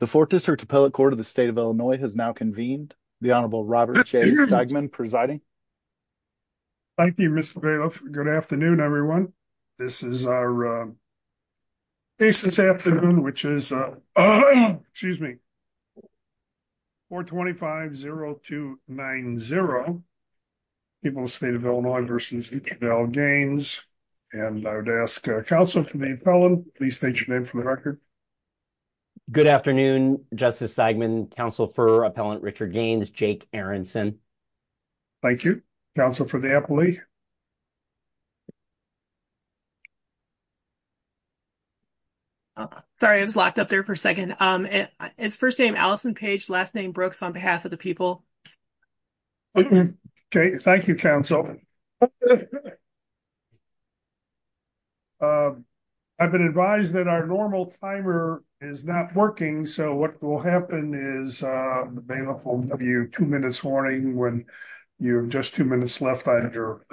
The fourth district appellate court of the state of Illinois has now convened the Honorable Robert J. Steigman presiding. Thank you, Mr. Good afternoon. Everyone. This is our case this afternoon, which is, excuse me. 425-0290. People state of Illinois versus Gaines. And I would ask counsel for the felon, please state your name for the record. Good afternoon, Justice Seidman counsel for appellant Richard Gaines, Jake Aronson. Thank you counsel for the employee. Sorry, I was locked up there for a 2nd, um, it's 1st name Allison page last name Brooks on behalf of the people. Okay, thank you. Council. Okay, I've been advised that our normal timer is not working. So what will happen is the bailiff will give you 2 minutes warning when you just 2 minutes left on your.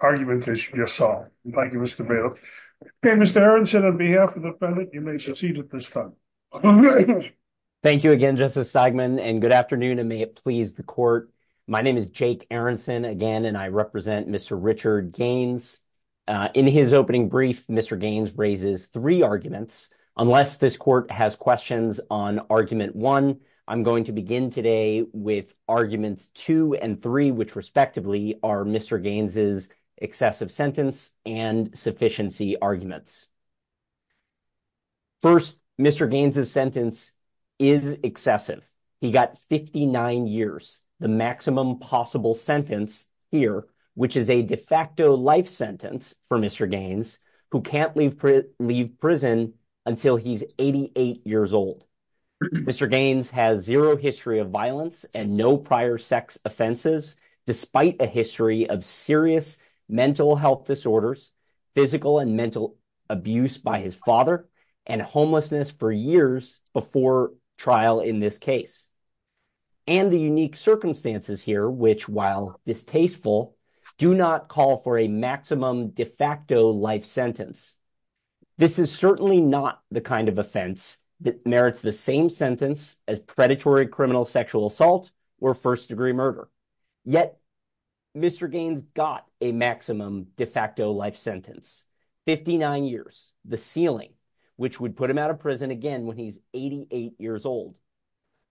Argument is your song. Thank you. Mr. Bill. Okay. Mr. Aaron said on behalf of the defendant, you may proceed at this time. Thank you again, just a segment and good afternoon and may it please the court. My name is Jake Aronson again and I represent Mr. Richard gains. In his opening brief, Mr. Gaines raises 3 arguments unless this court has questions on argument. 1, I'm going to begin today with arguments 2 and 3, which respectively are Mr. Gaines is excessive sentence and sufficiency arguments. 1st, Mr. Gaines is sentence. Is excessive, he got 59 years, the maximum possible sentence here, which is a de facto life sentence for Mr. Gaines who can't leave leave prison until he's 88 years old. Mr. Gaines has 0 history of violence and no prior sex offenses, despite a history of serious mental health disorders. Physical and mental abuse by his father and homelessness for years before trial in this case. And the unique circumstances here, which, while this tasteful do not call for a maximum de facto life sentence. This is certainly not the kind of offense that merits the same sentence as predatory criminal sexual assault or 1st degree murder yet. Mr. Gaines got a maximum de facto life sentence. 59 years the ceiling, which would put him out of prison again when he's 88 years old.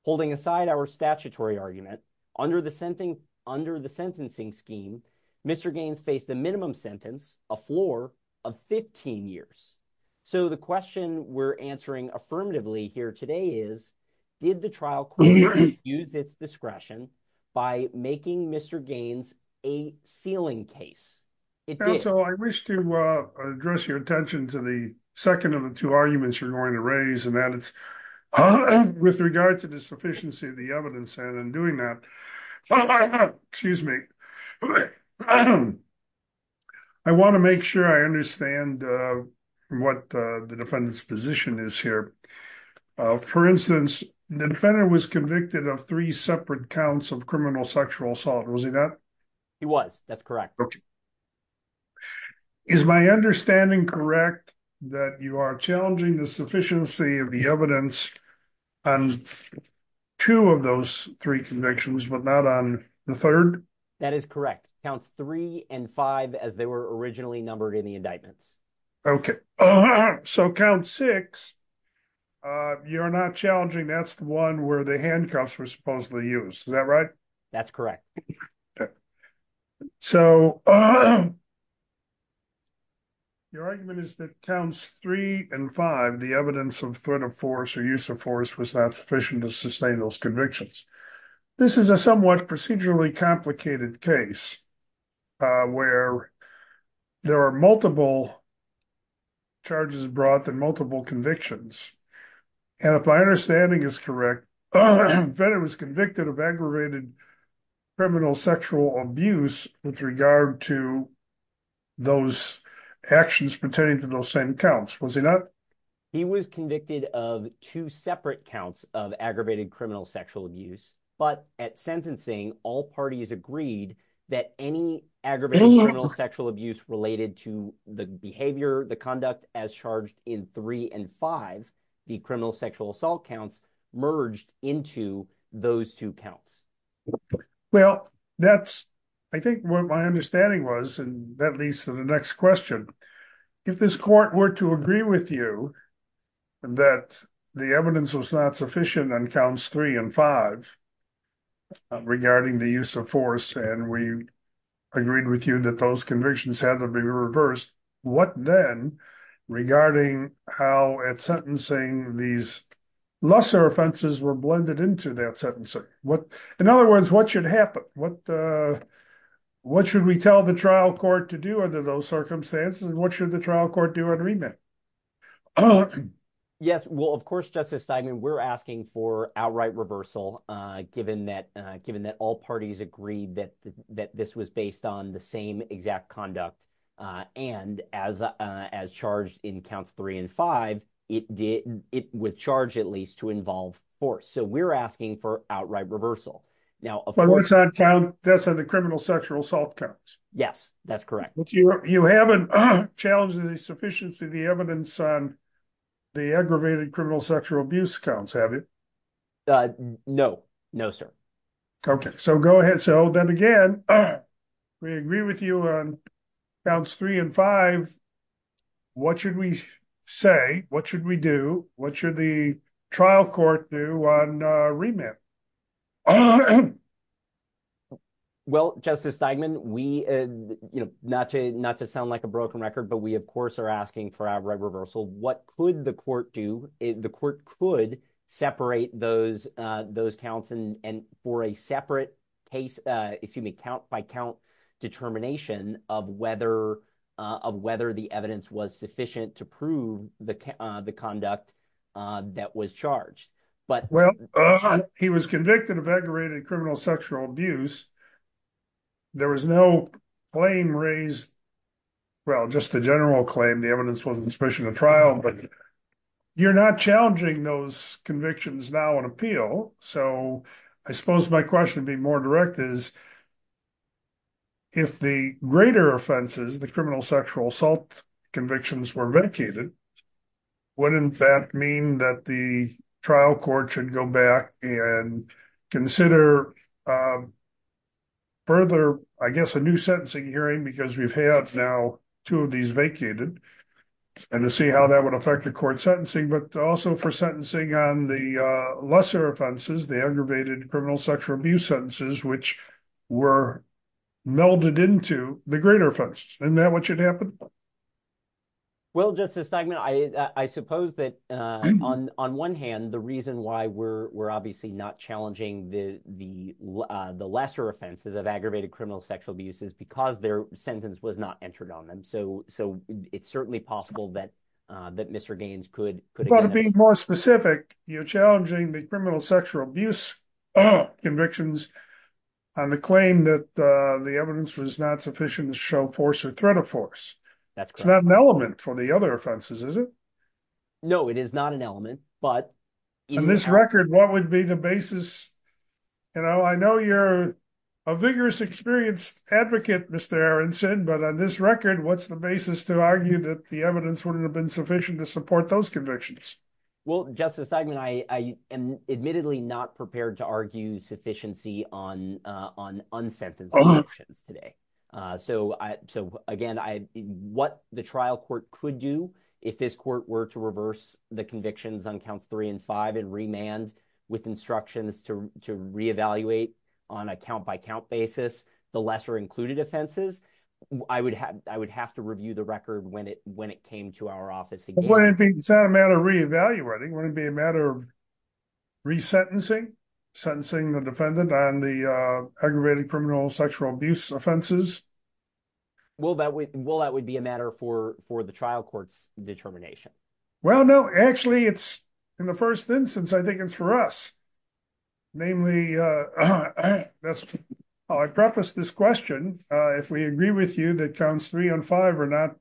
Holding aside our statutory argument under the under the sentencing scheme. Mr. Gaines face the minimum sentence a floor of 15 years. So, the question we're answering affirmatively here today is. Did the trial use its discretion by making Mr. Gaines a ceiling case. So, I wish to address your attention to the 2nd of the 2 arguments you're going to raise and that it's. With regard to the sufficiency of the evidence and in doing that. Excuse me. I want to make sure I understand what the defendant's position is here. For instance, the defendant was convicted of 3 separate counts of criminal sexual assault. Was he not? He was that's correct. Is my understanding correct that you are challenging the sufficiency of the evidence. And 2 of those 3 convictions, but not on the 3rd. That is correct counts 3 and 5, as they were originally numbered in the indictments. Okay, so count 6. You're not challenging. That's the 1 where the handcuffs were supposedly used. Is that right? That's correct. So. Your argument is that counts 3 and 5, the evidence of threat of force or use of force was not sufficient to sustain those convictions. This is a somewhat procedurally complicated case where there are multiple charges brought and multiple convictions. And if my understanding is correct, the defendant was convicted of aggravated criminal sexual abuse with regard to those actions pertaining to those same counts. Was he not? He was convicted of 2 separate counts of aggravated criminal sexual abuse. But at sentencing, all parties agreed that any aggravated sexual abuse related to the behavior, the conduct as charged in 3 and 5, the criminal sexual assault counts merged into those 2 counts. Well, that's I think what my understanding was, and that leads to the next question. If this court were to agree with you that the evidence was not sufficient on counts 3 and 5 regarding the use of force, and we agreed with you that those convictions had to be reversed, what then regarding how at sentencing these lesser offenses were blended into that sentencing? In other words, what should happen? What should we tell the trial court to do under those circumstances? What should the trial court do on remand? Yes, well, of course, Justice Steinman, we're asking for outright reversal, given that all parties agreed that this was based on the same exact conduct, and as charged in counts 3 and 5, it would charge at least to involve force. So we're asking for outright reversal. But that's on the criminal sexual assault counts. Yes, that's correct. But you haven't challenged the sufficiency of the evidence on the aggravated criminal sexual abuse counts, have you? No, no, sir. Okay, so go ahead. So then again, we agree with you on counts 3 and 5. What should we say? What should we do? What should the trial court do on remand? Well, Justice Steinman, not to sound like a broken record, but we, of course, are asking for outright reversal. What could the court do? The court could separate those counts and for a separate case, excuse me, count by count determination of whether the evidence was sufficient to prove the conduct that was charged. Well, he was convicted of aggravated criminal sexual abuse. There was no claim raised, well, just the general claim, the evidence wasn't sufficient in the trial. But you're not challenging those convictions now on appeal. So I suppose my question would be more direct is, if the greater offenses, the criminal sexual assault convictions were vacated, wouldn't that mean that the trial court should go back and consider further, I guess, a new sentencing hearing because we've had now two of these vacated and to see how that would affect the court sentencing, but also for sentencing on the lesser offenses, the aggravated criminal sexual abuse sentences, which were melded into the greater offense. Isn't that what should happen? Well, Justice Steigman, I suppose that on one hand, the reason why we're obviously not challenging the lesser offenses of aggravated criminal sexual abuse is because their sentence was not entered on them. So it's certainly possible that Mr. Gaines could- Well, to be more specific, you're challenging the criminal sexual abuse convictions on the claim that the evidence was not sufficient to show force or threat of force. That's correct. It's not an element for the other offenses, is it? No, it is not an element, but- On this record, what would be the basis? I know you're a vigorous, experienced advocate, Mr. Aronson, but on this record, what's the basis to argue that the evidence wouldn't have been sufficient to support those convictions? Well, Justice Steigman, I am admittedly not prepared to argue sufficiency on unsentenced convictions today. So again, what the trial court could do if this court were to reverse the convictions on counts three and five and remand with instructions to re-evaluate on a count-by-count basis the lesser included offenses, I would have to review the record when it came to our office. Well, wouldn't it be- It's not a matter of re-evaluating. Wouldn't it be a matter of resentencing, sentencing the defendant on the aggravated sexual abuse offenses? Will that be a matter for the trial court's determination? Well, no. Actually, in the first instance, I think it's for us. Namely, I preface this question, if we agree with you that counts three and five are not-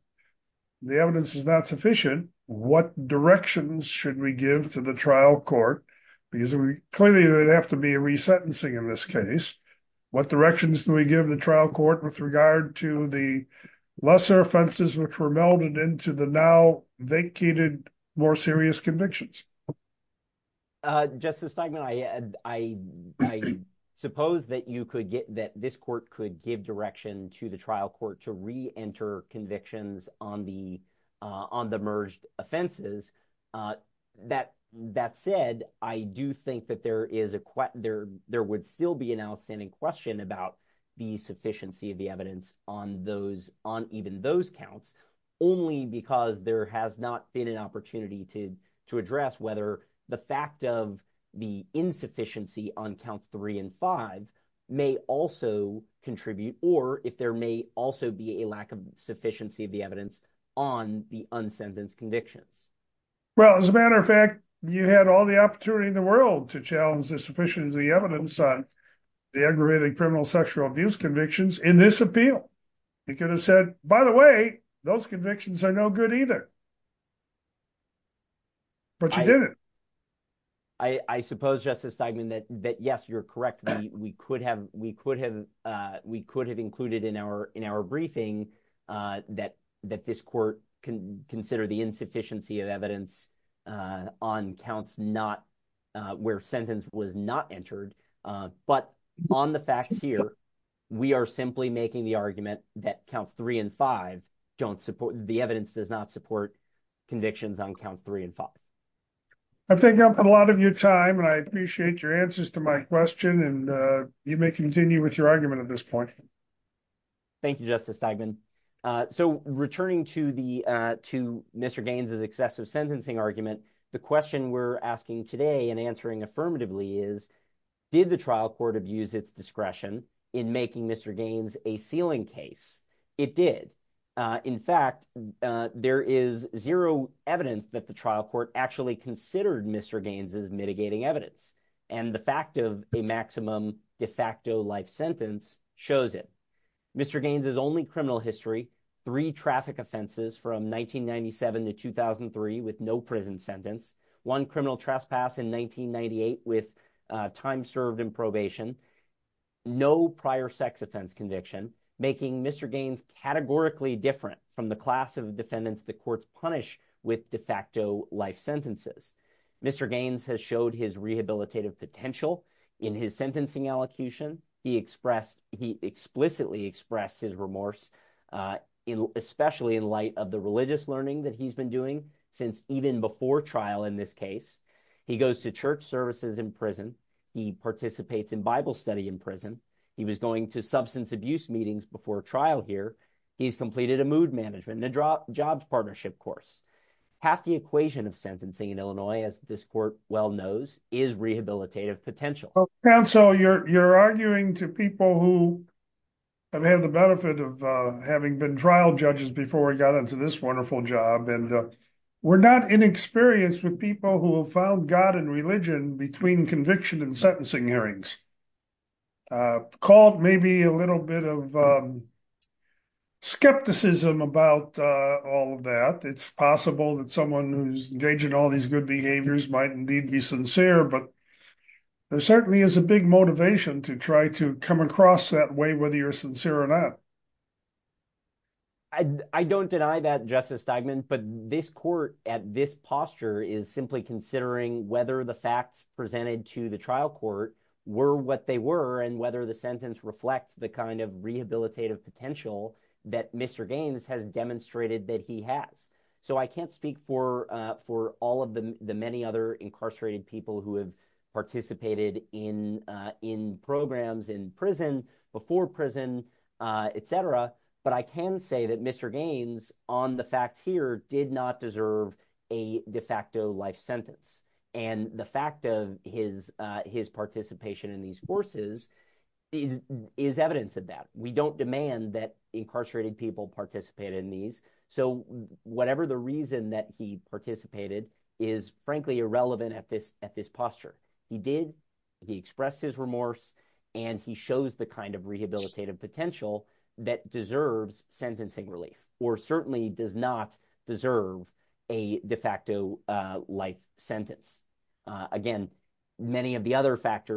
the evidence is not sufficient, what directions should we give to the trial court? Because clearly, there'd have to be a resentencing in this case. What directions do we give the trial court with regard to the lesser offenses which were melded into the now vacated more serious convictions? Justice Steinman, I suppose that you could get- that this court could give direction to the trial court to re-enter convictions on the merged offenses. That said, I do think that there is a- there would still be an outstanding question about the sufficiency of the evidence on those- on even those counts, only because there has not been an opportunity to address whether the fact of the insufficiency on counts three and five may also contribute, or if there may also be a lack of sufficiency of the evidence on the unsentenced convictions. Well, as a matter of fact, you had all the opportunity in the world to challenge the sufficiency of the evidence on the aggravated criminal sexual abuse convictions in this appeal. You could have said, by the way, those convictions are no good either. But you didn't. I suppose, Justice Steinman, that yes, you're correct. We could have- we could have- we could have included in our- in our briefing that- that this court can consider the insufficiency of evidence on counts not- where sentence was not entered. But on the facts here, we are simply making the argument that counts three and five don't support- the evidence does not support convictions on counts three and five. I'm taking up a lot of your time, and I appreciate your answers to my question, and you may continue with your argument at this point. Thank you, Justice Steinman. So, returning to the- to Mr. Gaines's excessive sentencing argument, the question we're asking today and answering affirmatively is, did the trial court abuse its discretion in making Mr. Gaines a ceiling case? It did. In fact, there is zero evidence that the trial court actually considered Mr. Gaines's mitigating evidence, and the fact of a maximum de facto life sentence shows it. Mr. Gaines's only criminal history, three traffic offenses from 1997 to 2003 with no prison sentence, one criminal trespass in 1998 with time served in probation, no prior sex offense conviction, making Mr. Gaines categorically different from the class of defendants the courts punish with de facto life sentences. Mr. Gaines has showed his rehabilitative potential in his sentencing elocution. He expressed- he explicitly expressed his remorse, especially in light of the religious learning that he's been doing since even before trial in this case. He goes to church services in prison. He participates in Bible study in prison. He was going to substance abuse meetings before trial here. He's completed a mood management and a jobs partnership course. Half the equation of sentencing in Illinois, as this court well knows, is rehabilitative potential. Counsel, you're arguing to people who have had the benefit of having been trial judges before we got into this wonderful job and were not inexperienced with people who have found God and religion between conviction and sentencing hearings. Called maybe a little bit of skepticism about all of that. It's possible that someone who's engaged in all these good behaviors might indeed be sincere, but there certainly is a big motivation to try to come across that way, whether you're sincere or not. I don't deny that, Justice Steigman, but this court at this posture is simply considering whether the facts presented to the trial court were what they were and whether the sentence reflects the kind of rehabilitative potential that Mr. Gaines has demonstrated that he has. I can't speak for all of the many other incarcerated people who have participated in programs in prison, before prison, etc., but I can say that Mr. Gaines, on the facts here, did not deserve a de facto life sentence. The fact of his participation in these forces is evidence of that. We don't demand that incarcerated people participate in these. Whatever the reason that he participated is, frankly, irrelevant at this posture. He did, he expressed his remorse, and he shows the kind of rehabilitative potential that deserves sentencing relief, or certainly does not deserve a de facto life sentence. Again, many of the other facts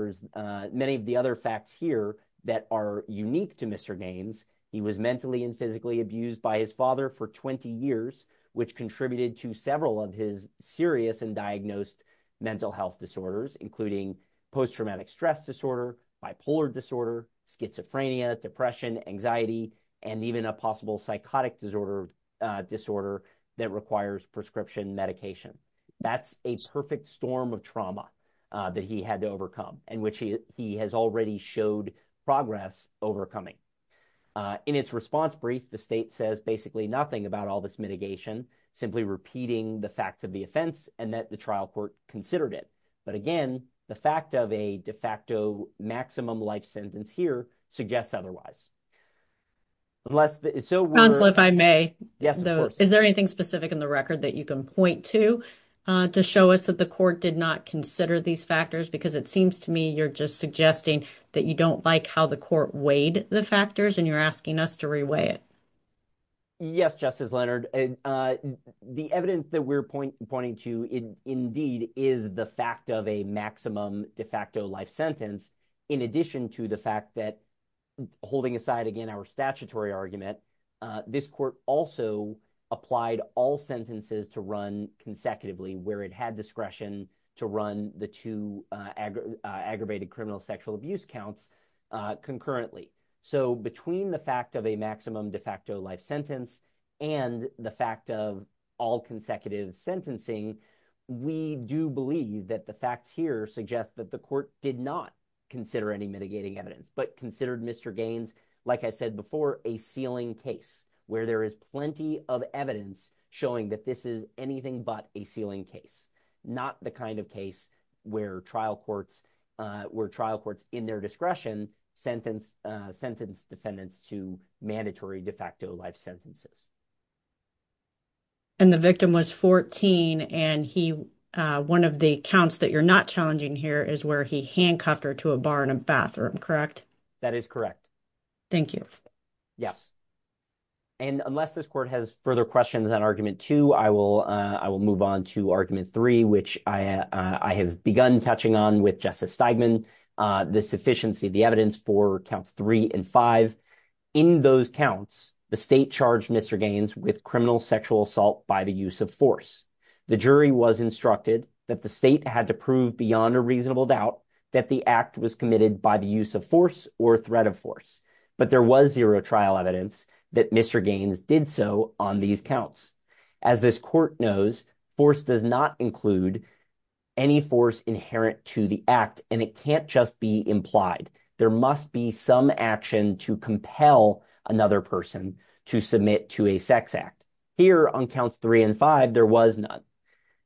here that are unique to Mr. Gaines, he was mentally and physically abused by his father for 20 years, which contributed to several of his serious and diagnosed mental health disorders, including post-traumatic stress disorder, bipolar disorder, schizophrenia, depression, anxiety, and even a possible psychotic disorder that requires prescription medication. That's a perfect storm of trauma that he had to overcome, and which he has already showed progress overcoming. In its response brief, the state says basically nothing about all this mitigation, simply repeating the facts of the offense, and that the trial court considered it. But again, the fact of a de facto maximum life sentence here suggests otherwise. Unless, so we're- Counsel, if I may. Yes, of course. Is there anything specific in the record that you can point to, to show us that the court did not consider these factors? Because it seems to me you're just suggesting that you don't like how the court weighed the factors and you're asking us to reweigh it. Yes, Justice Leonard. The evidence that we're pointing to indeed is the fact of a maximum de facto life sentence, in addition to the fact that, holding aside again our statutory argument, this court also applied all sentences to run consecutively where it had discretion to run the two aggravated criminal sexual abuse counts concurrently. Between the fact of a maximum de facto life sentence and the fact of all consecutive sentencing, we do believe that the facts here suggest that the court did not consider any mitigating evidence, but considered, Mr. Gaines, like I said before, a ceiling case where there is plenty of evidence showing that this is anything but a ceiling case, not the kind where trial courts in their discretion sentence defendants to mandatory de facto life sentences. And the victim was 14, and one of the counts that you're not challenging here is where he handcuffed her to a bar in a bathroom, correct? That is correct. Thank you. Yes. And unless this court has further questions on argument two, I will move on to argument three, which I have begun touching on with Justice Steigman, the sufficiency of the evidence for count three and five. In those counts, the state charged Mr. Gaines with criminal sexual assault by the use of force. The jury was instructed that the state had to prove beyond a reasonable doubt that the act was committed by the use of force or threat of force. But there was zero trial evidence that Mr. Gaines did so on these counts. As this court knows, force does not include any force inherent to the act, and it can't just be implied. There must be some action to compel another person to submit to a sex act. Here on counts three and five, there was none.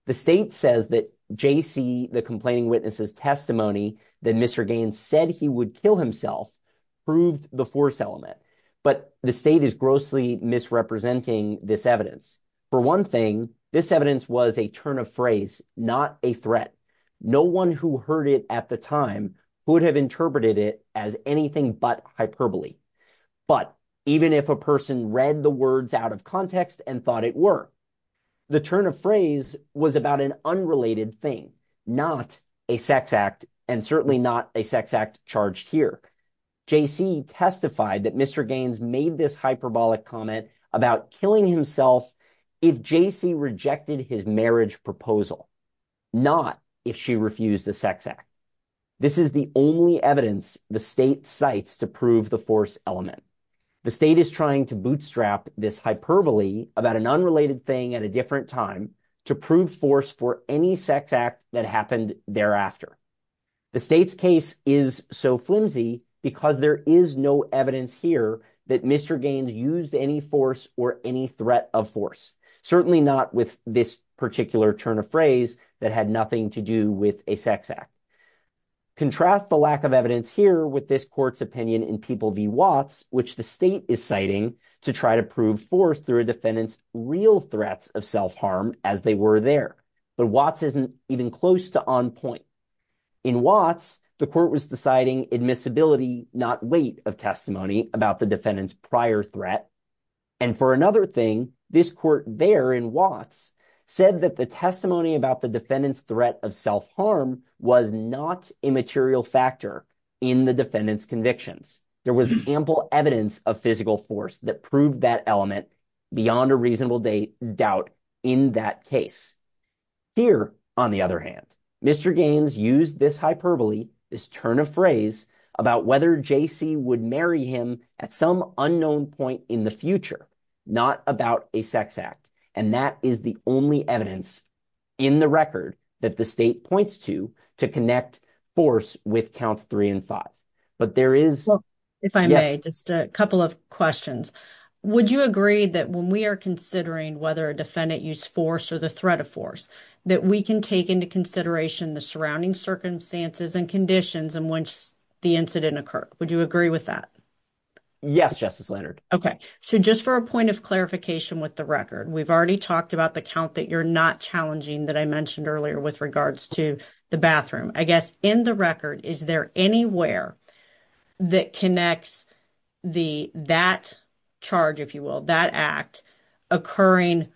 The state says that J.C., the complaining witness's testimony that Mr. Gaines said he would kill himself proved the force element, but the state is grossly misrepresenting this evidence. For one thing, this evidence was a turn of phrase, not a threat. No one who heard it at the time would have interpreted it as anything but hyperbole. But even if a person read the words out of context and thought it were, the turn of phrase was about an unrelated thing, not a sex act, and certainly not a sex act charged here. J.C. testified that Mr. Gaines made this hyperbolic comment about killing himself if J.C. rejected his marriage proposal, not if she refused the sex act. This is the only evidence the state cites to prove the force element. The state is trying to bootstrap this hyperbole about an unrelated thing at a different time to prove force for any sex act that happened thereafter. The state's case is so flimsy because there is no evidence here that Mr. Gaines used any force or any threat of force, certainly not with this particular turn of phrase that had nothing to do with a sex act. Contrast the lack of evidence here with this court's opinion in People v. Watts, which the state is citing to try to prove force through a defendant's real threats of self-harm as they were there. But Watts isn't even close to on point. In Watts, the court was deciding admissibility, not weight of testimony about the defendant's prior threat. And for another thing, this court there in Watts said that the testimony about the defendant's threat of self-harm was not a material factor in the defendant's convictions. There was ample evidence of physical force that proved that element beyond a reasonable doubt in that case. Here, on the other hand, Mr. Gaines used this hyperbole, this turn of phrase about whether J.C. would marry him at some unknown point in the future, not about a sex act. And that is the only evidence in the record that the state points to to connect force with counts three and five. But there is. If I may, just a couple of questions. Would you agree that when we are considering whether a defendant used force or the threat of force, that we can take into consideration the surrounding circumstances and conditions in which the incident occurred? Would you agree with that? Yes, Justice Leonard. OK. So just for a point of clarification with the record, we've already talked about the count that you're not challenging that I mentioned earlier with regards to the bathroom. I guess in the record, is there anywhere that connects that charge, if you will, that act occurring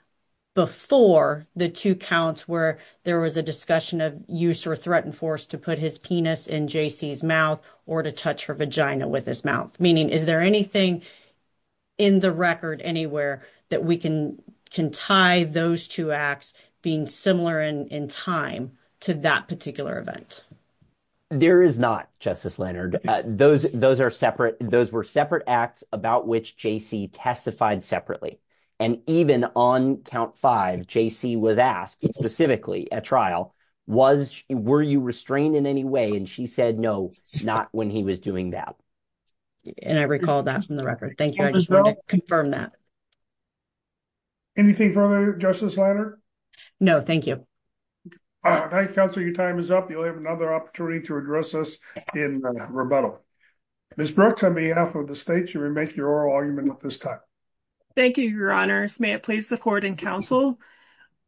before the two counts where there was a discussion of use or threatened force to put his penis in J.C.'s mouth or to touch her vagina with his mouth? Meaning, is there anything in the record anywhere that we can can tie those two acts being similar in time to that particular event? There is not, Justice Leonard. Those those are separate. Those were separate acts about which J.C. testified separately. And even on count five, J.C. was asked specifically at trial, was were you restrained in any way? And she said no, not when he was doing that. And I recall that from the record. Thank you. I just want to confirm that. Anything further, Justice Leonard? No, thank you. Counselor, your time is up. You'll have another opportunity to address us in rebuttal. Ms. Brooks, on behalf of the state, you may make your oral argument at this time. Thank you, Your Honor. May it please the court and counsel.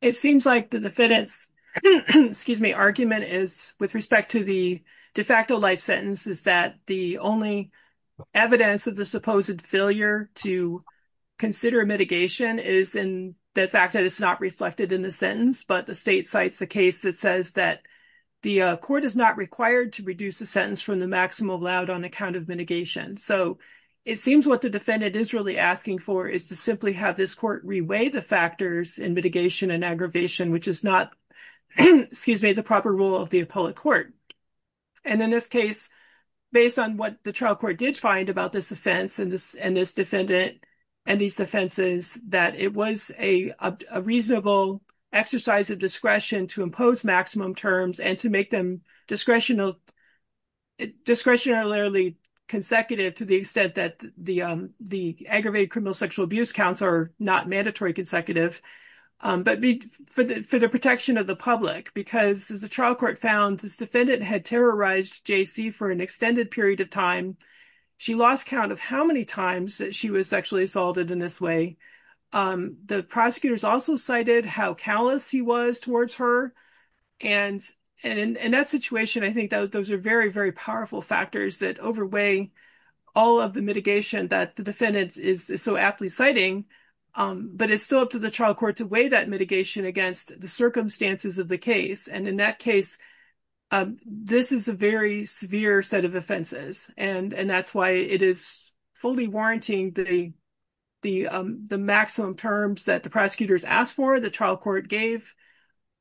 It seems like the defendant's, excuse me, argument is with respect to the de facto life sentence is that the only evidence of the supposed failure to consider mitigation is in the fact that it's not reflected in the sentence. But the state cites the case that says that the court is not required to reduce the sentence from the maximum allowed on account of mitigation. So it seems what the defendant is really asking for is to simply have this court reweigh the factors in mitigation and aggravation, which is not, excuse me, the proper role of the appellate court. And in this case, based on what the trial court did find about this offense and this defendant and these offenses, that it was a reasonable exercise of discretion to impose discretionarily consecutive to the extent that the aggravated criminal sexual abuse counts are not mandatory consecutive. But for the protection of the public, because as the trial court found, this defendant had terrorized J.C. for an extended period of time. She lost count of how many times that she was sexually assaulted in this way. The prosecutors also cited how callous he was towards her. And in that situation, I think that those are very, very powerful factors that overweigh all of the mitigation that the defendant is so aptly citing. But it's still up to the trial court to weigh that mitigation against the circumstances of the case. And in that case, this is a very severe set of offenses. And that's why it is fully warranting the maximum terms that the prosecutors asked for the trial court gave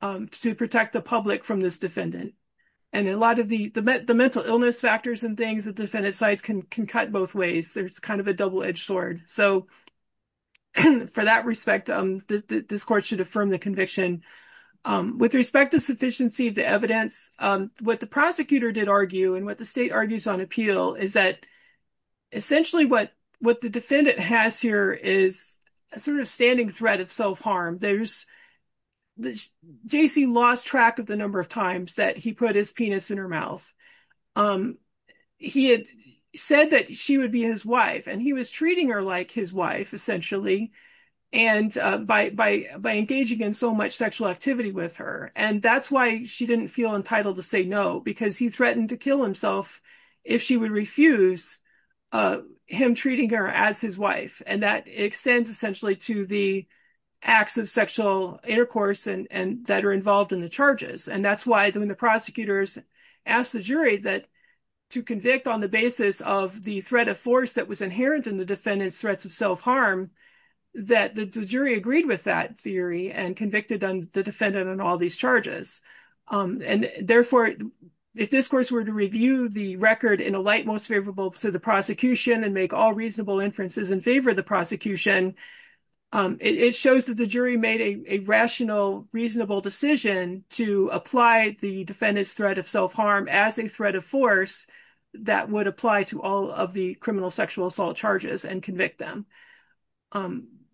to protect the public from this defendant. And a lot of the mental illness factors and things that defendants sites can cut both ways. There's kind of a double edged sword. So for that respect, this court should affirm the conviction. With respect to sufficiency of the evidence, what the prosecutor did argue and what the state argues on appeal is that essentially what the defendant has here is a sort of standing threat of self-harm. There's J.C. lost track of the number of times that he put his penis in her mouth. He had said that she would be his wife and he was treating her like his wife, essentially, and by engaging in so much sexual activity with her. And that's why she didn't feel entitled to say no, because he threatened to kill himself if she would refuse him treating her as his wife. And that extends essentially to the acts of sexual intercourse and that are involved in the charges. And that's why the prosecutors asked the jury that to convict on the basis of the threat of force that was inherent in the defendant's threats of self-harm, that the jury agreed with that theory and convicted the defendant on all these charges. And therefore, if this course were to review the record in a light most favorable to the prosecution, it shows that the jury made a rational, reasonable decision to apply the defendant's threat of self-harm as a threat of force that would apply to all of the criminal sexual assault charges and convict them.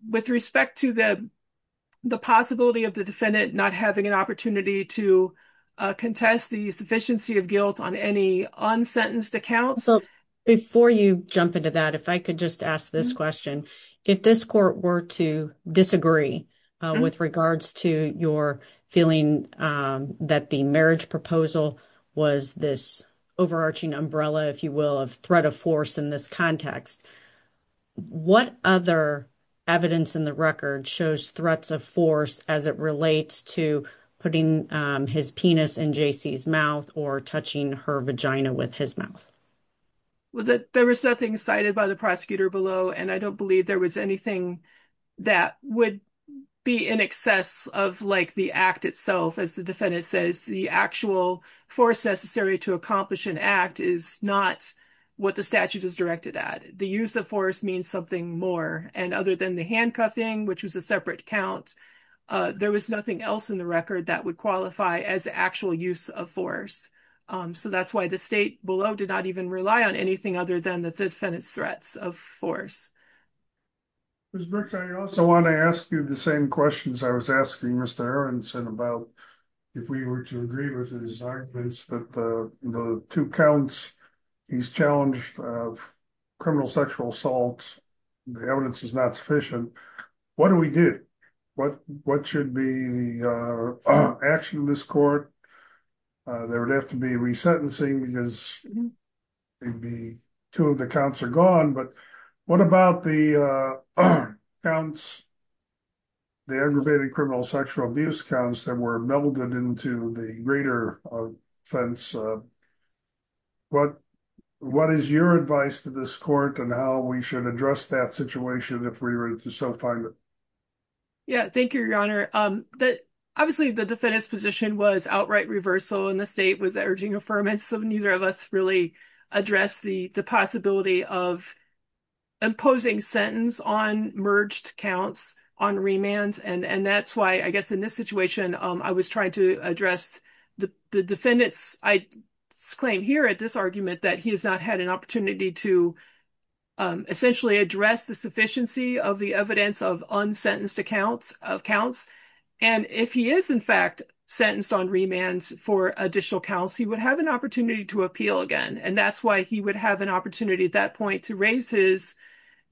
With respect to the possibility of the defendant not having an opportunity to contest the sufficiency of guilt on any unsentenced account. Before you jump into that, if I could just ask this question, if this court were to disagree with regards to your feeling that the marriage proposal was this overarching umbrella, if you will, of threat of force in this context, what other evidence in the record shows threats of force as it relates to putting his penis in JC's mouth or touching her vagina with his mouth? Well, there was nothing cited by the prosecutor below, and I don't believe there was anything that would be in excess of like the act itself. As the defendant says, the actual force necessary to accomplish an act is not what the statute is directed at. The use of force means something more. And other than the handcuffing, which was a separate count, there was nothing else in the record that would qualify as actual use of force. So that's why the state below did not even rely on anything other than the defendant's threats of force. Ms. Brooks, I also want to ask you the same questions I was asking Mr. Aronson about if we were to agree with his arguments that the two counts he's challenged of criminal sexual assault, the evidence is not sufficient. What do we do? What should be the action of this court? There would have to be resentencing because maybe two of the counts are gone. But what about the counts, the aggravated criminal sexual abuse counts that were melded into the greater offense? What is your advice to this court and how we should address that situation if we were to so find it? Yeah, thank you, Your Honor. Obviously, the defendant's position was outright reversal and the state was urging affirmance. So neither of us really addressed the possibility of imposing sentence on merged counts on remands. And that's why I guess in this situation, I was trying to address the defendant's claim here at this argument that he has not had an opportunity to essentially address the of the evidence of unsentenced accounts of counts. And if he is, in fact, sentenced on remands for additional counts, he would have an opportunity to appeal again. And that's why he would have an opportunity at that point to raise his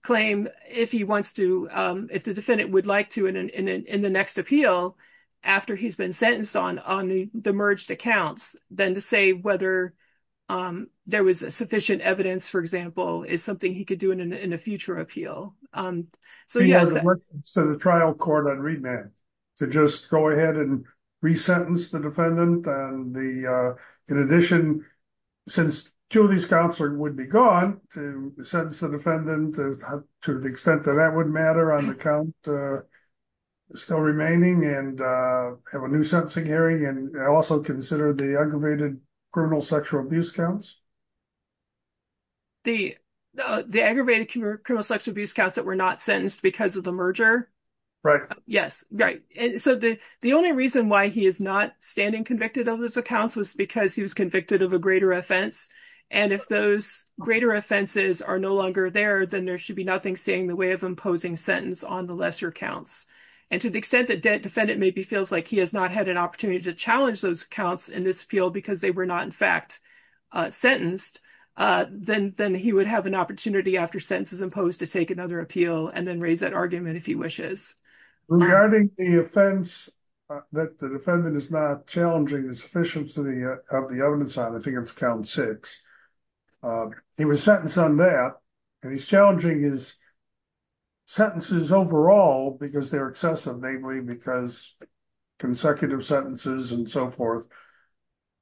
claim if he wants to if the defendant would like to in the next appeal after he's been sentenced on the merged accounts, then to say whether there was sufficient evidence, for example, is something he could do in a future appeal. So he has a trial court on remand to just go ahead and resentence the defendant. And the in addition, since Julie's counselor would be gone to sentence the defendant to the extent that that would matter on the count still remaining and have a new sentencing hearing and also consider the aggravated criminal sexual abuse counts. The the aggravated criminal sexual abuse counts that were not sentenced because of the merger. Yes. Right. And so the the only reason why he is not standing convicted of those accounts was because he was convicted of a greater offense. And if those greater offenses are no longer there, then there should be nothing staying in the way of imposing sentence on the lesser counts. And to the extent that the defendant maybe feels like he has not had an opportunity to challenge those counts in this appeal because they were not, in fact, sentenced on remand then then he would have an opportunity after sentence is imposed to take another appeal and then raise that argument if he wishes. Regarding the offense that the defendant is not challenging the sufficiency of the evidence on, I think it's count six. He was sentenced on that and he's challenging his sentences overall because they're excessive, namely because consecutive sentences and so forth.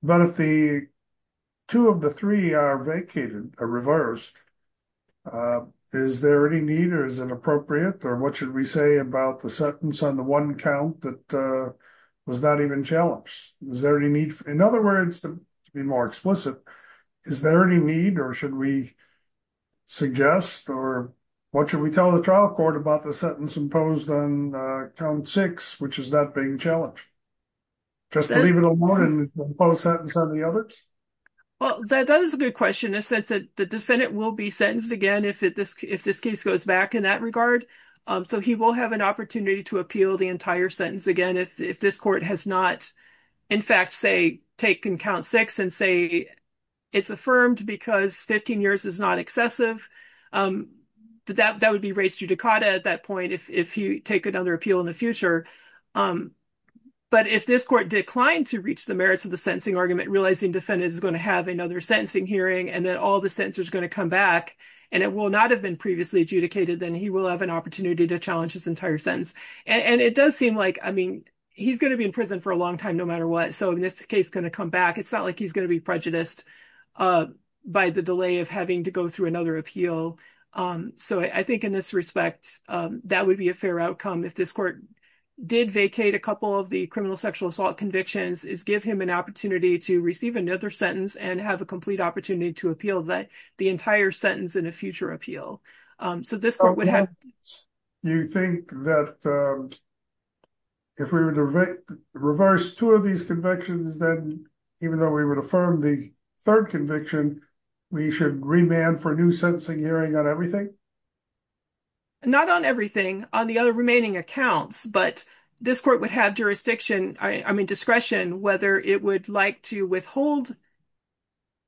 But if the two of the three are vacated or reversed, is there any need or is it appropriate or what should we say about the sentence on the one count that was not even challenged? Is there any need? In other words, to be more explicit, is there any need or should we suggest or what should we tell the trial court about the sentence imposed on count six, which is not being challenged? Just to leave it alone and impose sentence on the others? Well, that is a good question. In a sense that the defendant will be sentenced again if this case goes back in that regard. So he will have an opportunity to appeal the entire sentence again if this court has not, in fact, say, taken count six and say it's affirmed because 15 years is not excessive. That would be raised judicata at that point if you take another appeal in the future. But if this court declined to reach the merits of the sentencing argument, realizing defendant is going to have another sentencing hearing and that all the sentence is going to come back and it will not have been previously adjudicated, then he will have an opportunity to challenge his entire sentence. And it does seem like, I mean, he's going to be in prison for a long time no matter what. So if this case is going to come back, it's not like he's going to be prejudiced by the delay of having to go through another appeal. So I think in this respect, that would be a fair outcome if this court did vacate a couple of the criminal sexual assault convictions is give him an opportunity to receive another sentence and have a complete opportunity to appeal the entire sentence in a future appeal. So this court would have... So you think that if we were to reverse two of these convictions, then even though we would affirm the third conviction, we should remand for a new sentencing hearing on everything? Not on everything. On the other remaining accounts. But this court would have jurisdiction, I mean, discretion, whether it would like to withhold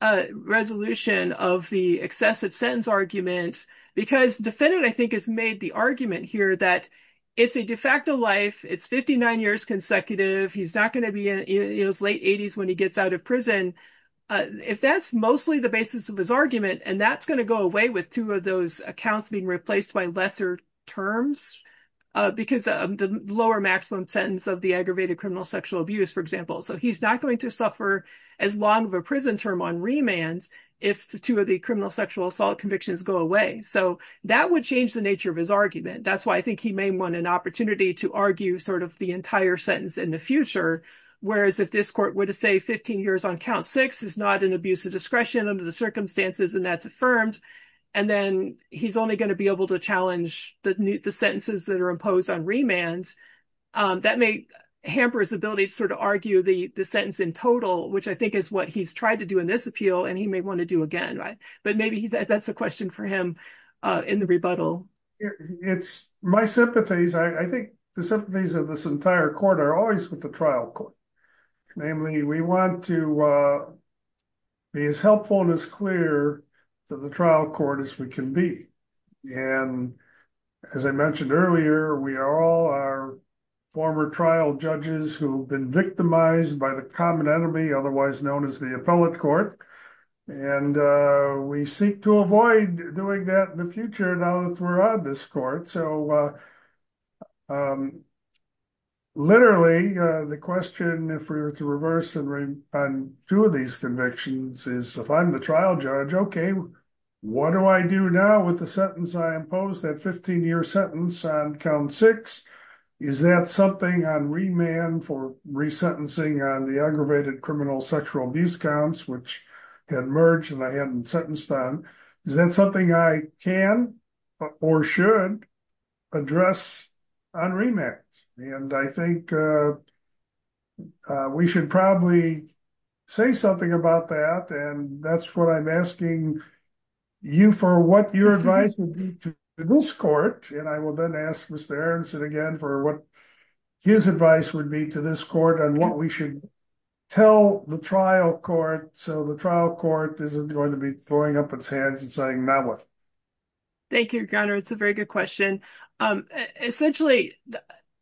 a resolution of the excessive sentence argument. Because defendant, I think, has made the argument here that it's a de facto life. It's 59 years consecutive. He's not going to be in his late 80s when he gets out of prison. If that's mostly the basis of his argument and that's going to go away with two of those accounts being replaced by lesser terms because of the lower maximum sentence of the aggravated criminal sexual abuse, for example. So he's not going to suffer as long of a prison term on remands if the two of the criminal sexual assault convictions go away. So that would change the nature of his argument. That's why I think he may want an opportunity to argue sort of the entire sentence in the future, whereas if this court were to say 15 years on count six is not an abuse of discretion under the circumstances and that's affirmed. And then he's only going to be able to challenge the sentences that are imposed on remands. That may hamper his ability to sort of argue the sentence in total, which I think is what he's tried to do in this appeal. And he may want to do again. But maybe that's a question for him in the rebuttal. It's my sympathies. I think the sympathies of this entire court are always with the trial court. Namely, we want to be as helpful and as clear to the trial court as we can be. And as I mentioned earlier, we are all our former trial judges who've been victimized by the common enemy, otherwise known as the appellate court. And we seek to avoid doing that in the future now that we're on this court. So, literally, the question, if we were to reverse on two of these convictions is if I'm the trial judge, okay, what do I do now with the sentence I imposed, that 15-year sentence on count six? Is that something on remand for resentencing on the aggravated criminal sexual abuse counts, which had merged and I hadn't sentenced on? Is that something I can or should address on remand? And I think we should probably say something about that. And that's what I'm asking you for what your advice would be to this court. And I will then ask Mr. Ernst again for what his advice would be to this court on what we should tell the trial court so the trial court isn't going to be throwing up its hands and saying, now what? Thank you, Your Honor. It's a very good question. Essentially,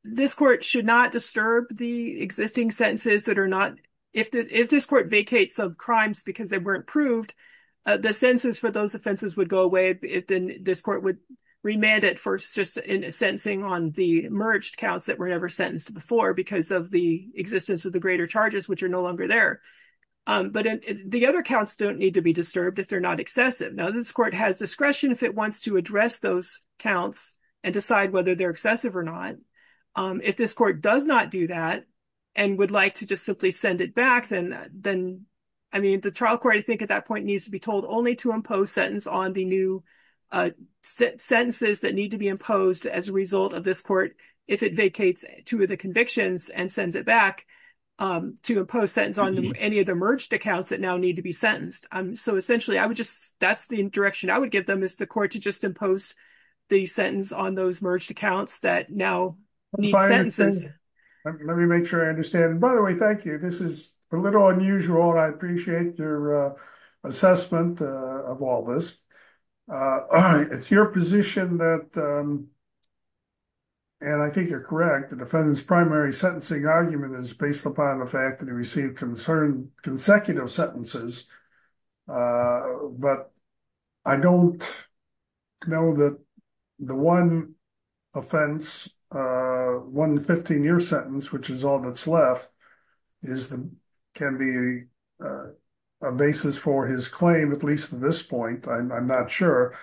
this court should not disturb the existing sentences that are not, if this court vacates of crimes because they weren't proved, the sentences for those offenses would go away if then this court would remand it for sentencing on the merged counts that were never sentenced before because of the existence of the greater charges, which are no longer there. But the other counts don't need to be disturbed if they're not excessive. Now, this court has discretion if it wants to address those counts and decide whether they're excessive or not. If this court does not do that and would like to just simply send it back, then I mean, the trial court, I think at that point, needs to be told only to impose sentence on the new sentences that need to be imposed as a result of this court if it vacates two of the convictions and sends it back to impose sentence on any of the merged accounts that now need to be sentenced. So essentially, I would just, that's the direction I would give them is the court to just impose the sentence on those merged accounts that now need sentences. Let me make sure I understand. By the way, thank you. This is a little unusual and I appreciate your assessment of all this. It's your position that, and I think you're correct, the defendant's sentencing argument is based upon the fact that he received consecutive sentences. But I don't know that the one offense, one 15-year sentence, which is all that's left, can be a basis for his claim, at least at this point. I'm not sure.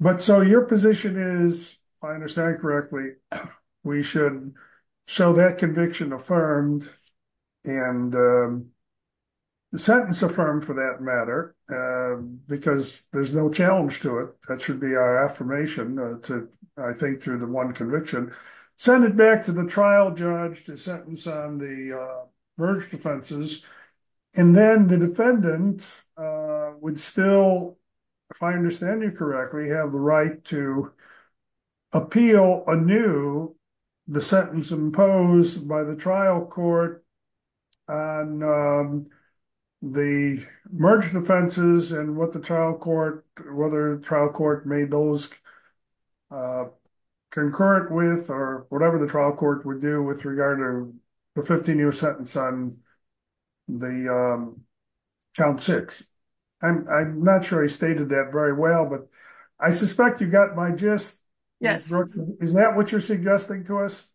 But so your position is, if I understand correctly, we should show that conviction affirmed and the sentence affirmed for that matter, because there's no challenge to it. That should be our affirmation to, I think, through the one conviction, send it back to the trial judge to sentence on the merged offenses. And then the defendant would still, if I understand you correctly, have the right to appeal anew the sentence imposed by the trial court on the merged offenses and what the trial court, whether the trial court made those concurrent with or whatever the trial court would do with regard to the 15-year sentence on the count six. I'm not sure I stated that very well, but I suspect you got my gist. Yes. Is that what you're suggesting to us?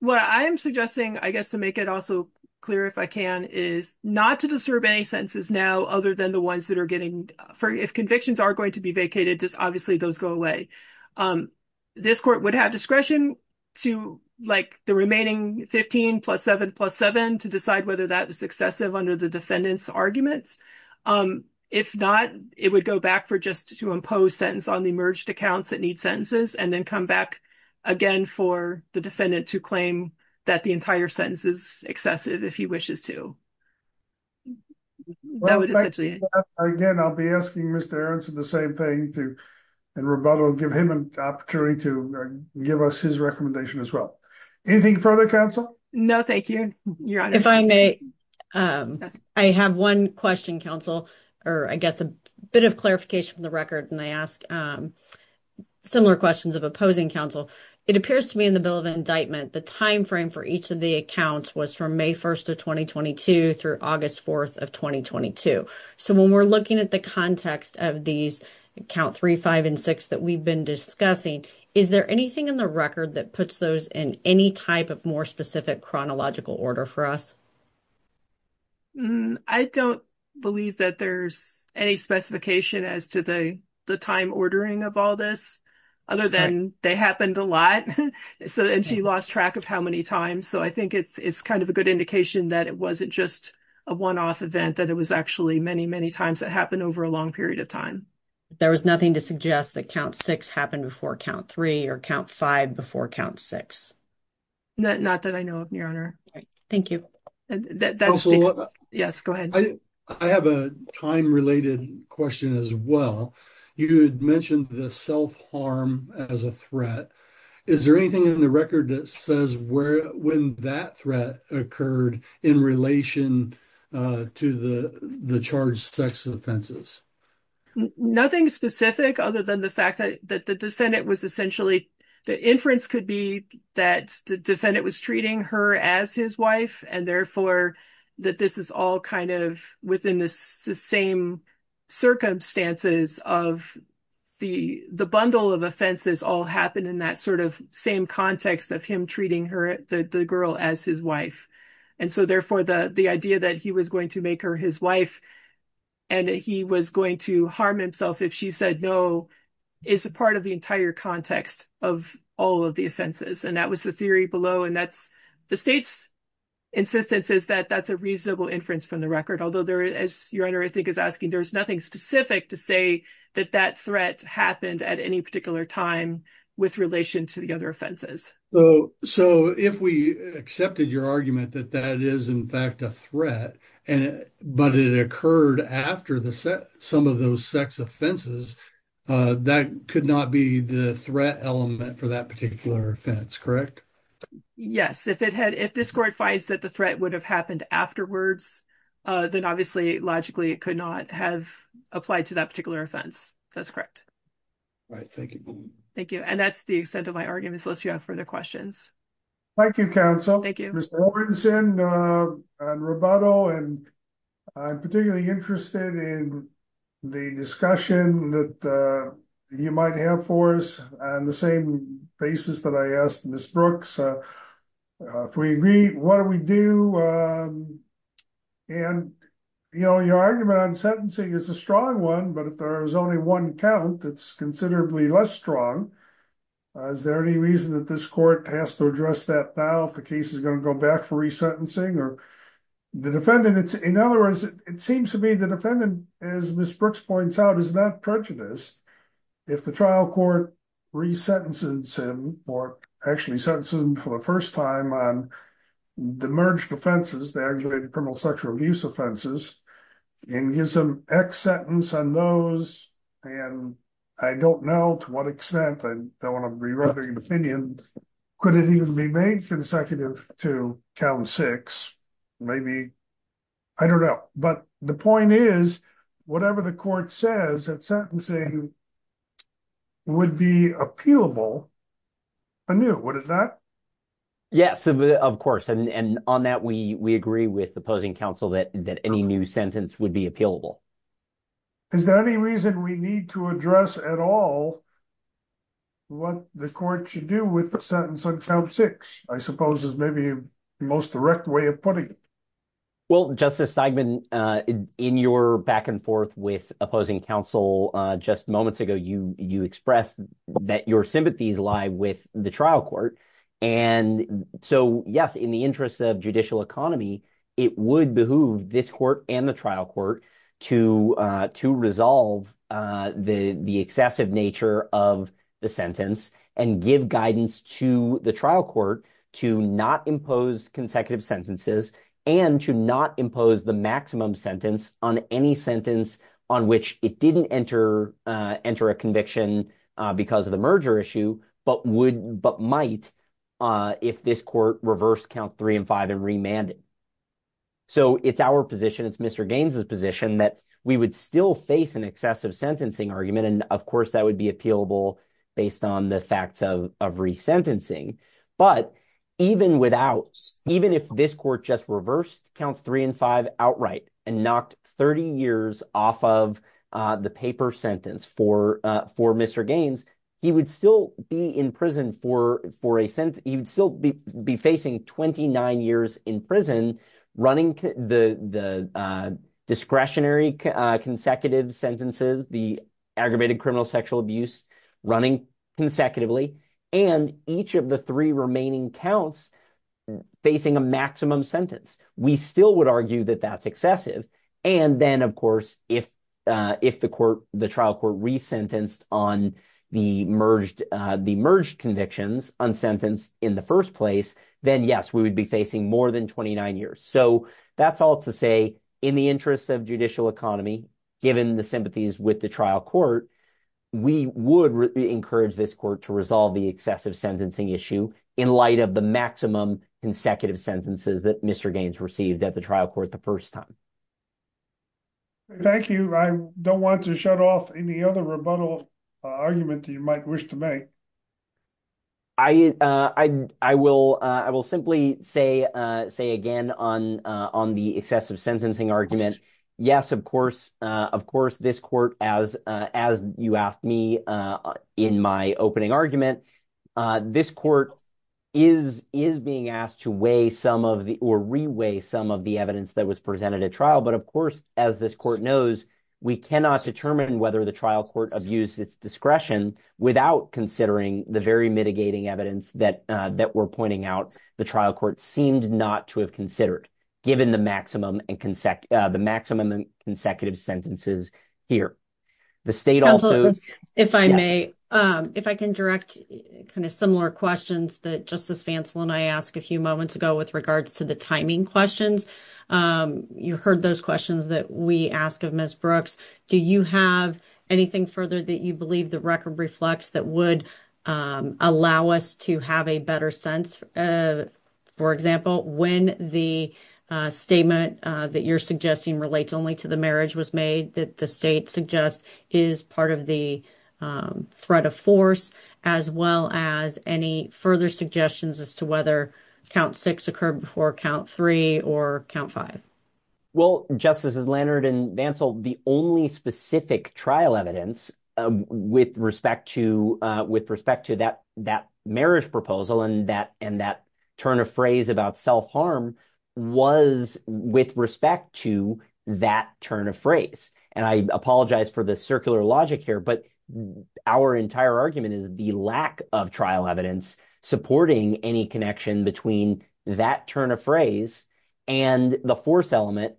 What I am suggesting, I guess to make it also clear if I can, is not to disturb any sentences now other than the ones that are getting, if convictions are going to be vacated, just obviously those go away. Um, this court would have discretion to like the remaining 15 plus seven plus seven to decide whether that was excessive under the defendant's arguments. Um, if not, it would go back for just to impose sentence on the merged accounts that need sentences and then come back again for the defendant to claim that the entire sentence is excessive if he wishes to. Again, I'll be asking Mr. Ernst the same thing to, and Roberto will give him an opportunity to give us his recommendation as well. Anything further, counsel? No, thank you. If I may, um, I have one question, counsel, or I guess a bit of clarification from the record. And I ask, um, similar questions of opposing counsel. It appears to me in the bill of indictment, the timeframe for each of the accounts was from May 1st of 2022 through August 4th of 2022. So when we're looking at the context of these count three, five, and six that we've been discussing, is there anything in the record that puts those in any type of more specific chronological order for us? I don't believe that there's any specification as to the time ordering of all this other than they happened a lot. So, and she lost track of how many times. So I think it's, it's kind of a good indication that it wasn't just a one-off event, that it was actually many, many times that happened over a long period of time. There was nothing to suggest that count six happened before count three or count five before count six. Not that I know of, your honor. Thank you. Yes, go ahead. I have a time-related question as well. You had mentioned the self-harm as a threat. Is there anything in the record that says where, when that threat occurred in relation to the, the charged sex offenses? Nothing specific other than the fact that the defendant was essentially, the inference could be that the defendant was treating her as his wife and therefore that this is all kind of within the same circumstances of the, the bundle of offenses all happened in that sort of same context of him treating her, the girl as his wife. And so therefore the, the idea that he was going to make her his wife and he was going to harm himself if she said no is a part of the entire context of all of the offenses. And that was the theory below. The state's insistence is that that's a reasonable inference from the record. Although there is, your honor, I think is asking, there's nothing specific to say that that threat happened at any particular time with relation to the other offenses. So if we accepted your argument that that is in fact a threat, but it occurred after some of those sex offenses, that could not be the threat element for that particular offense, correct? Yes. If it had, if this court finds that the threat would have happened afterwards, then obviously logically it could not have applied to that particular offense. That's correct. All right. Thank you. Thank you. And that's the extent of my arguments. Unless you have further questions. Thank you, counsel. Thank you. Robinson and Roboto. And I'm particularly interested in the discussion that you might have for us on the same basis that I asked Ms. Brooks, if we agree, what do we do? And, you know, your argument on sentencing is a strong one, but if there's only one count, it's considerably less strong. Is there any reason that this court has to address that now if the case is going to go back for resentencing or the defendant? In other words, it seems to me the defendant, as Ms. Brooks points out, is not prejudiced if the trial court resentences him or actually sentences him for the first time on the merged offenses, the aggravated criminal sexual abuse offenses, and gives him X sentence on those. And I don't know to what extent. I don't want to be running an opinion. Could it even be made consecutive to count six? Maybe. I don't know. But the point is, whatever the court says that sentencing would be appealable anew. What is that? Yes, of course. And on that, we agree with the opposing counsel that any new sentence would be appealable. Is there any reason we need to address at all what the court should do with the sentence on count six? I suppose is maybe the most direct way of putting it. Well, Justice Steigman, in your back and forth with opposing counsel just moments ago, you expressed that your sympathies lie with the trial court. And so, yes, in the interest of judicial economy, it would behoove this court and the trial court to to resolve the excessive nature of the sentence and give guidance to the trial court to not impose consecutive sentences and to not impose the maximum sentence on any sentence on which it didn't enter a conviction because of the merger issue, but might if this court reversed count three and five and remanded. So it's our position. It's Mr. Gaines's position that we would still face an excessive sentencing argument. And of course, that would be appealable based on the facts of resentencing. But even without even if this court just reversed count three and five outright and knocked 30 years off of the paper sentence for for Mr. Gaines, he would still be in prison for for a sentence. He would still be facing 29 years in prison running the discretionary consecutive sentences, the aggravated criminal sexual abuse running consecutively and each of the three remaining counts facing a maximum sentence. We still would argue that that's excessive. And then, of course, if if the court, the trial court resentenced on the merged, the merged convictions on sentence in the first place, then, yes, we would be facing more than 29 years. So that's all to say in the interests of judicial economy, given the sympathies with the trial court, we would encourage this court to resolve the excessive sentencing issue in light of the maximum consecutive sentences that Mr. Gaines received at the trial court the first time. Thank you. I don't want to shut off any other rebuttal argument that you might wish to make. I, I, I will I will simply say, say again on on the excessive sentencing argument. Yes, of course. Of course, this court, as as you asked me in my opening argument, this court is is being asked to weigh some of the or reweigh some of the evidence that was presented at trial. But of course, as this court knows, we cannot determine whether the trial court abuse its discretion without considering the very mitigating evidence that that we're pointing out. The trial court seemed not to have considered given the maximum and the maximum consecutive sentences here. The state also, if I may, if I can direct kind of similar questions that Justice Fancel and I asked a few moments ago with regards to the timing questions. You heard those questions that we asked of Ms. Brooks. Do you have anything further that you believe the record reflects that would allow us to have a better sense? For example, when the statement that you're suggesting relates only to the marriage was made that the state suggests is part of the threat of force, as well as any further suggestions as to whether count six occurred before count three or count five? Well, justices Leonard and Bancel, the only specific trial evidence with respect to with respect to that that marriage proposal and that and that turn of phrase about self-harm was with respect to that turn of phrase. And I apologize for the circular logic here, but our entire argument is the lack of trial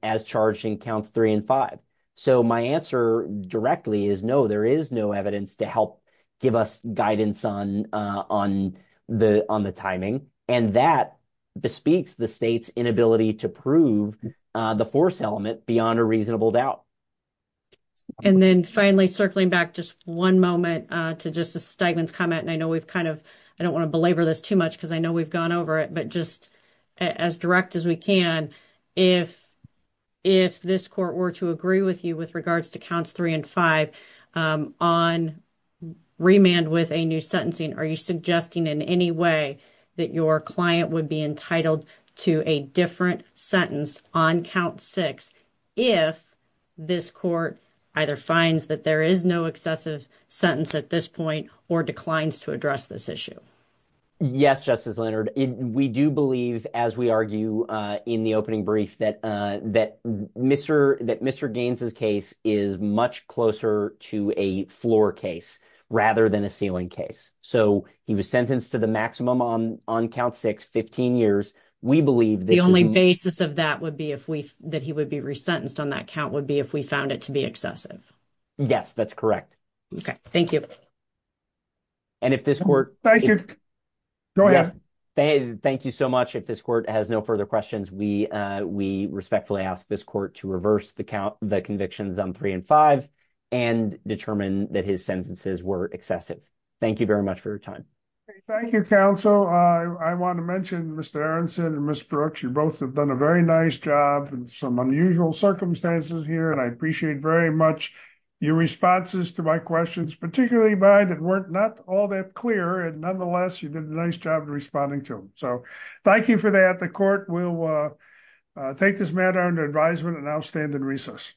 as charged in counts three and five. So my answer directly is, no, there is no evidence to help give us guidance on the timing. And that bespeaks the state's inability to prove the force element beyond a reasonable doubt. And then finally, circling back just one moment to Justice Steigman's comment, and I know we've kind of I don't want to belabor this too much because I know we've gone over it, but just as direct as we can, if this court were to agree with you with regards to counts three and five on remand with a new sentencing, are you suggesting in any way that your client would be entitled to a different sentence on count six if this court either finds that there is no excessive sentence at this point or declines to address this issue? Yes, Justice Leonard. We do believe, as we argue in the opening brief, that Mr. Gaines's case is much closer to a floor case rather than a ceiling case. So he was sentenced to the maximum on count six, 15 years. We believe that- The only basis of that would be that he would be resentenced on that count would be if we found it to be excessive. Yes, that's correct. Okay, thank you. And if this court- Thank you. Go ahead. Thank you so much. If this court has no further questions, we respectfully ask this court to reverse the convictions on three and five and determine that his sentences were excessive. Thank you very much for your time. Thank you, counsel. I want to mention Mr. Aronson and Ms. Brooks, you both have done a very nice job in some unusual circumstances here, and I appreciate very much your responses to my questions, particularly mine that were not all that clear, and nonetheless, you did a nice job responding to them. So thank you for that. The court will take this matter under advisement and I'll stand in recess.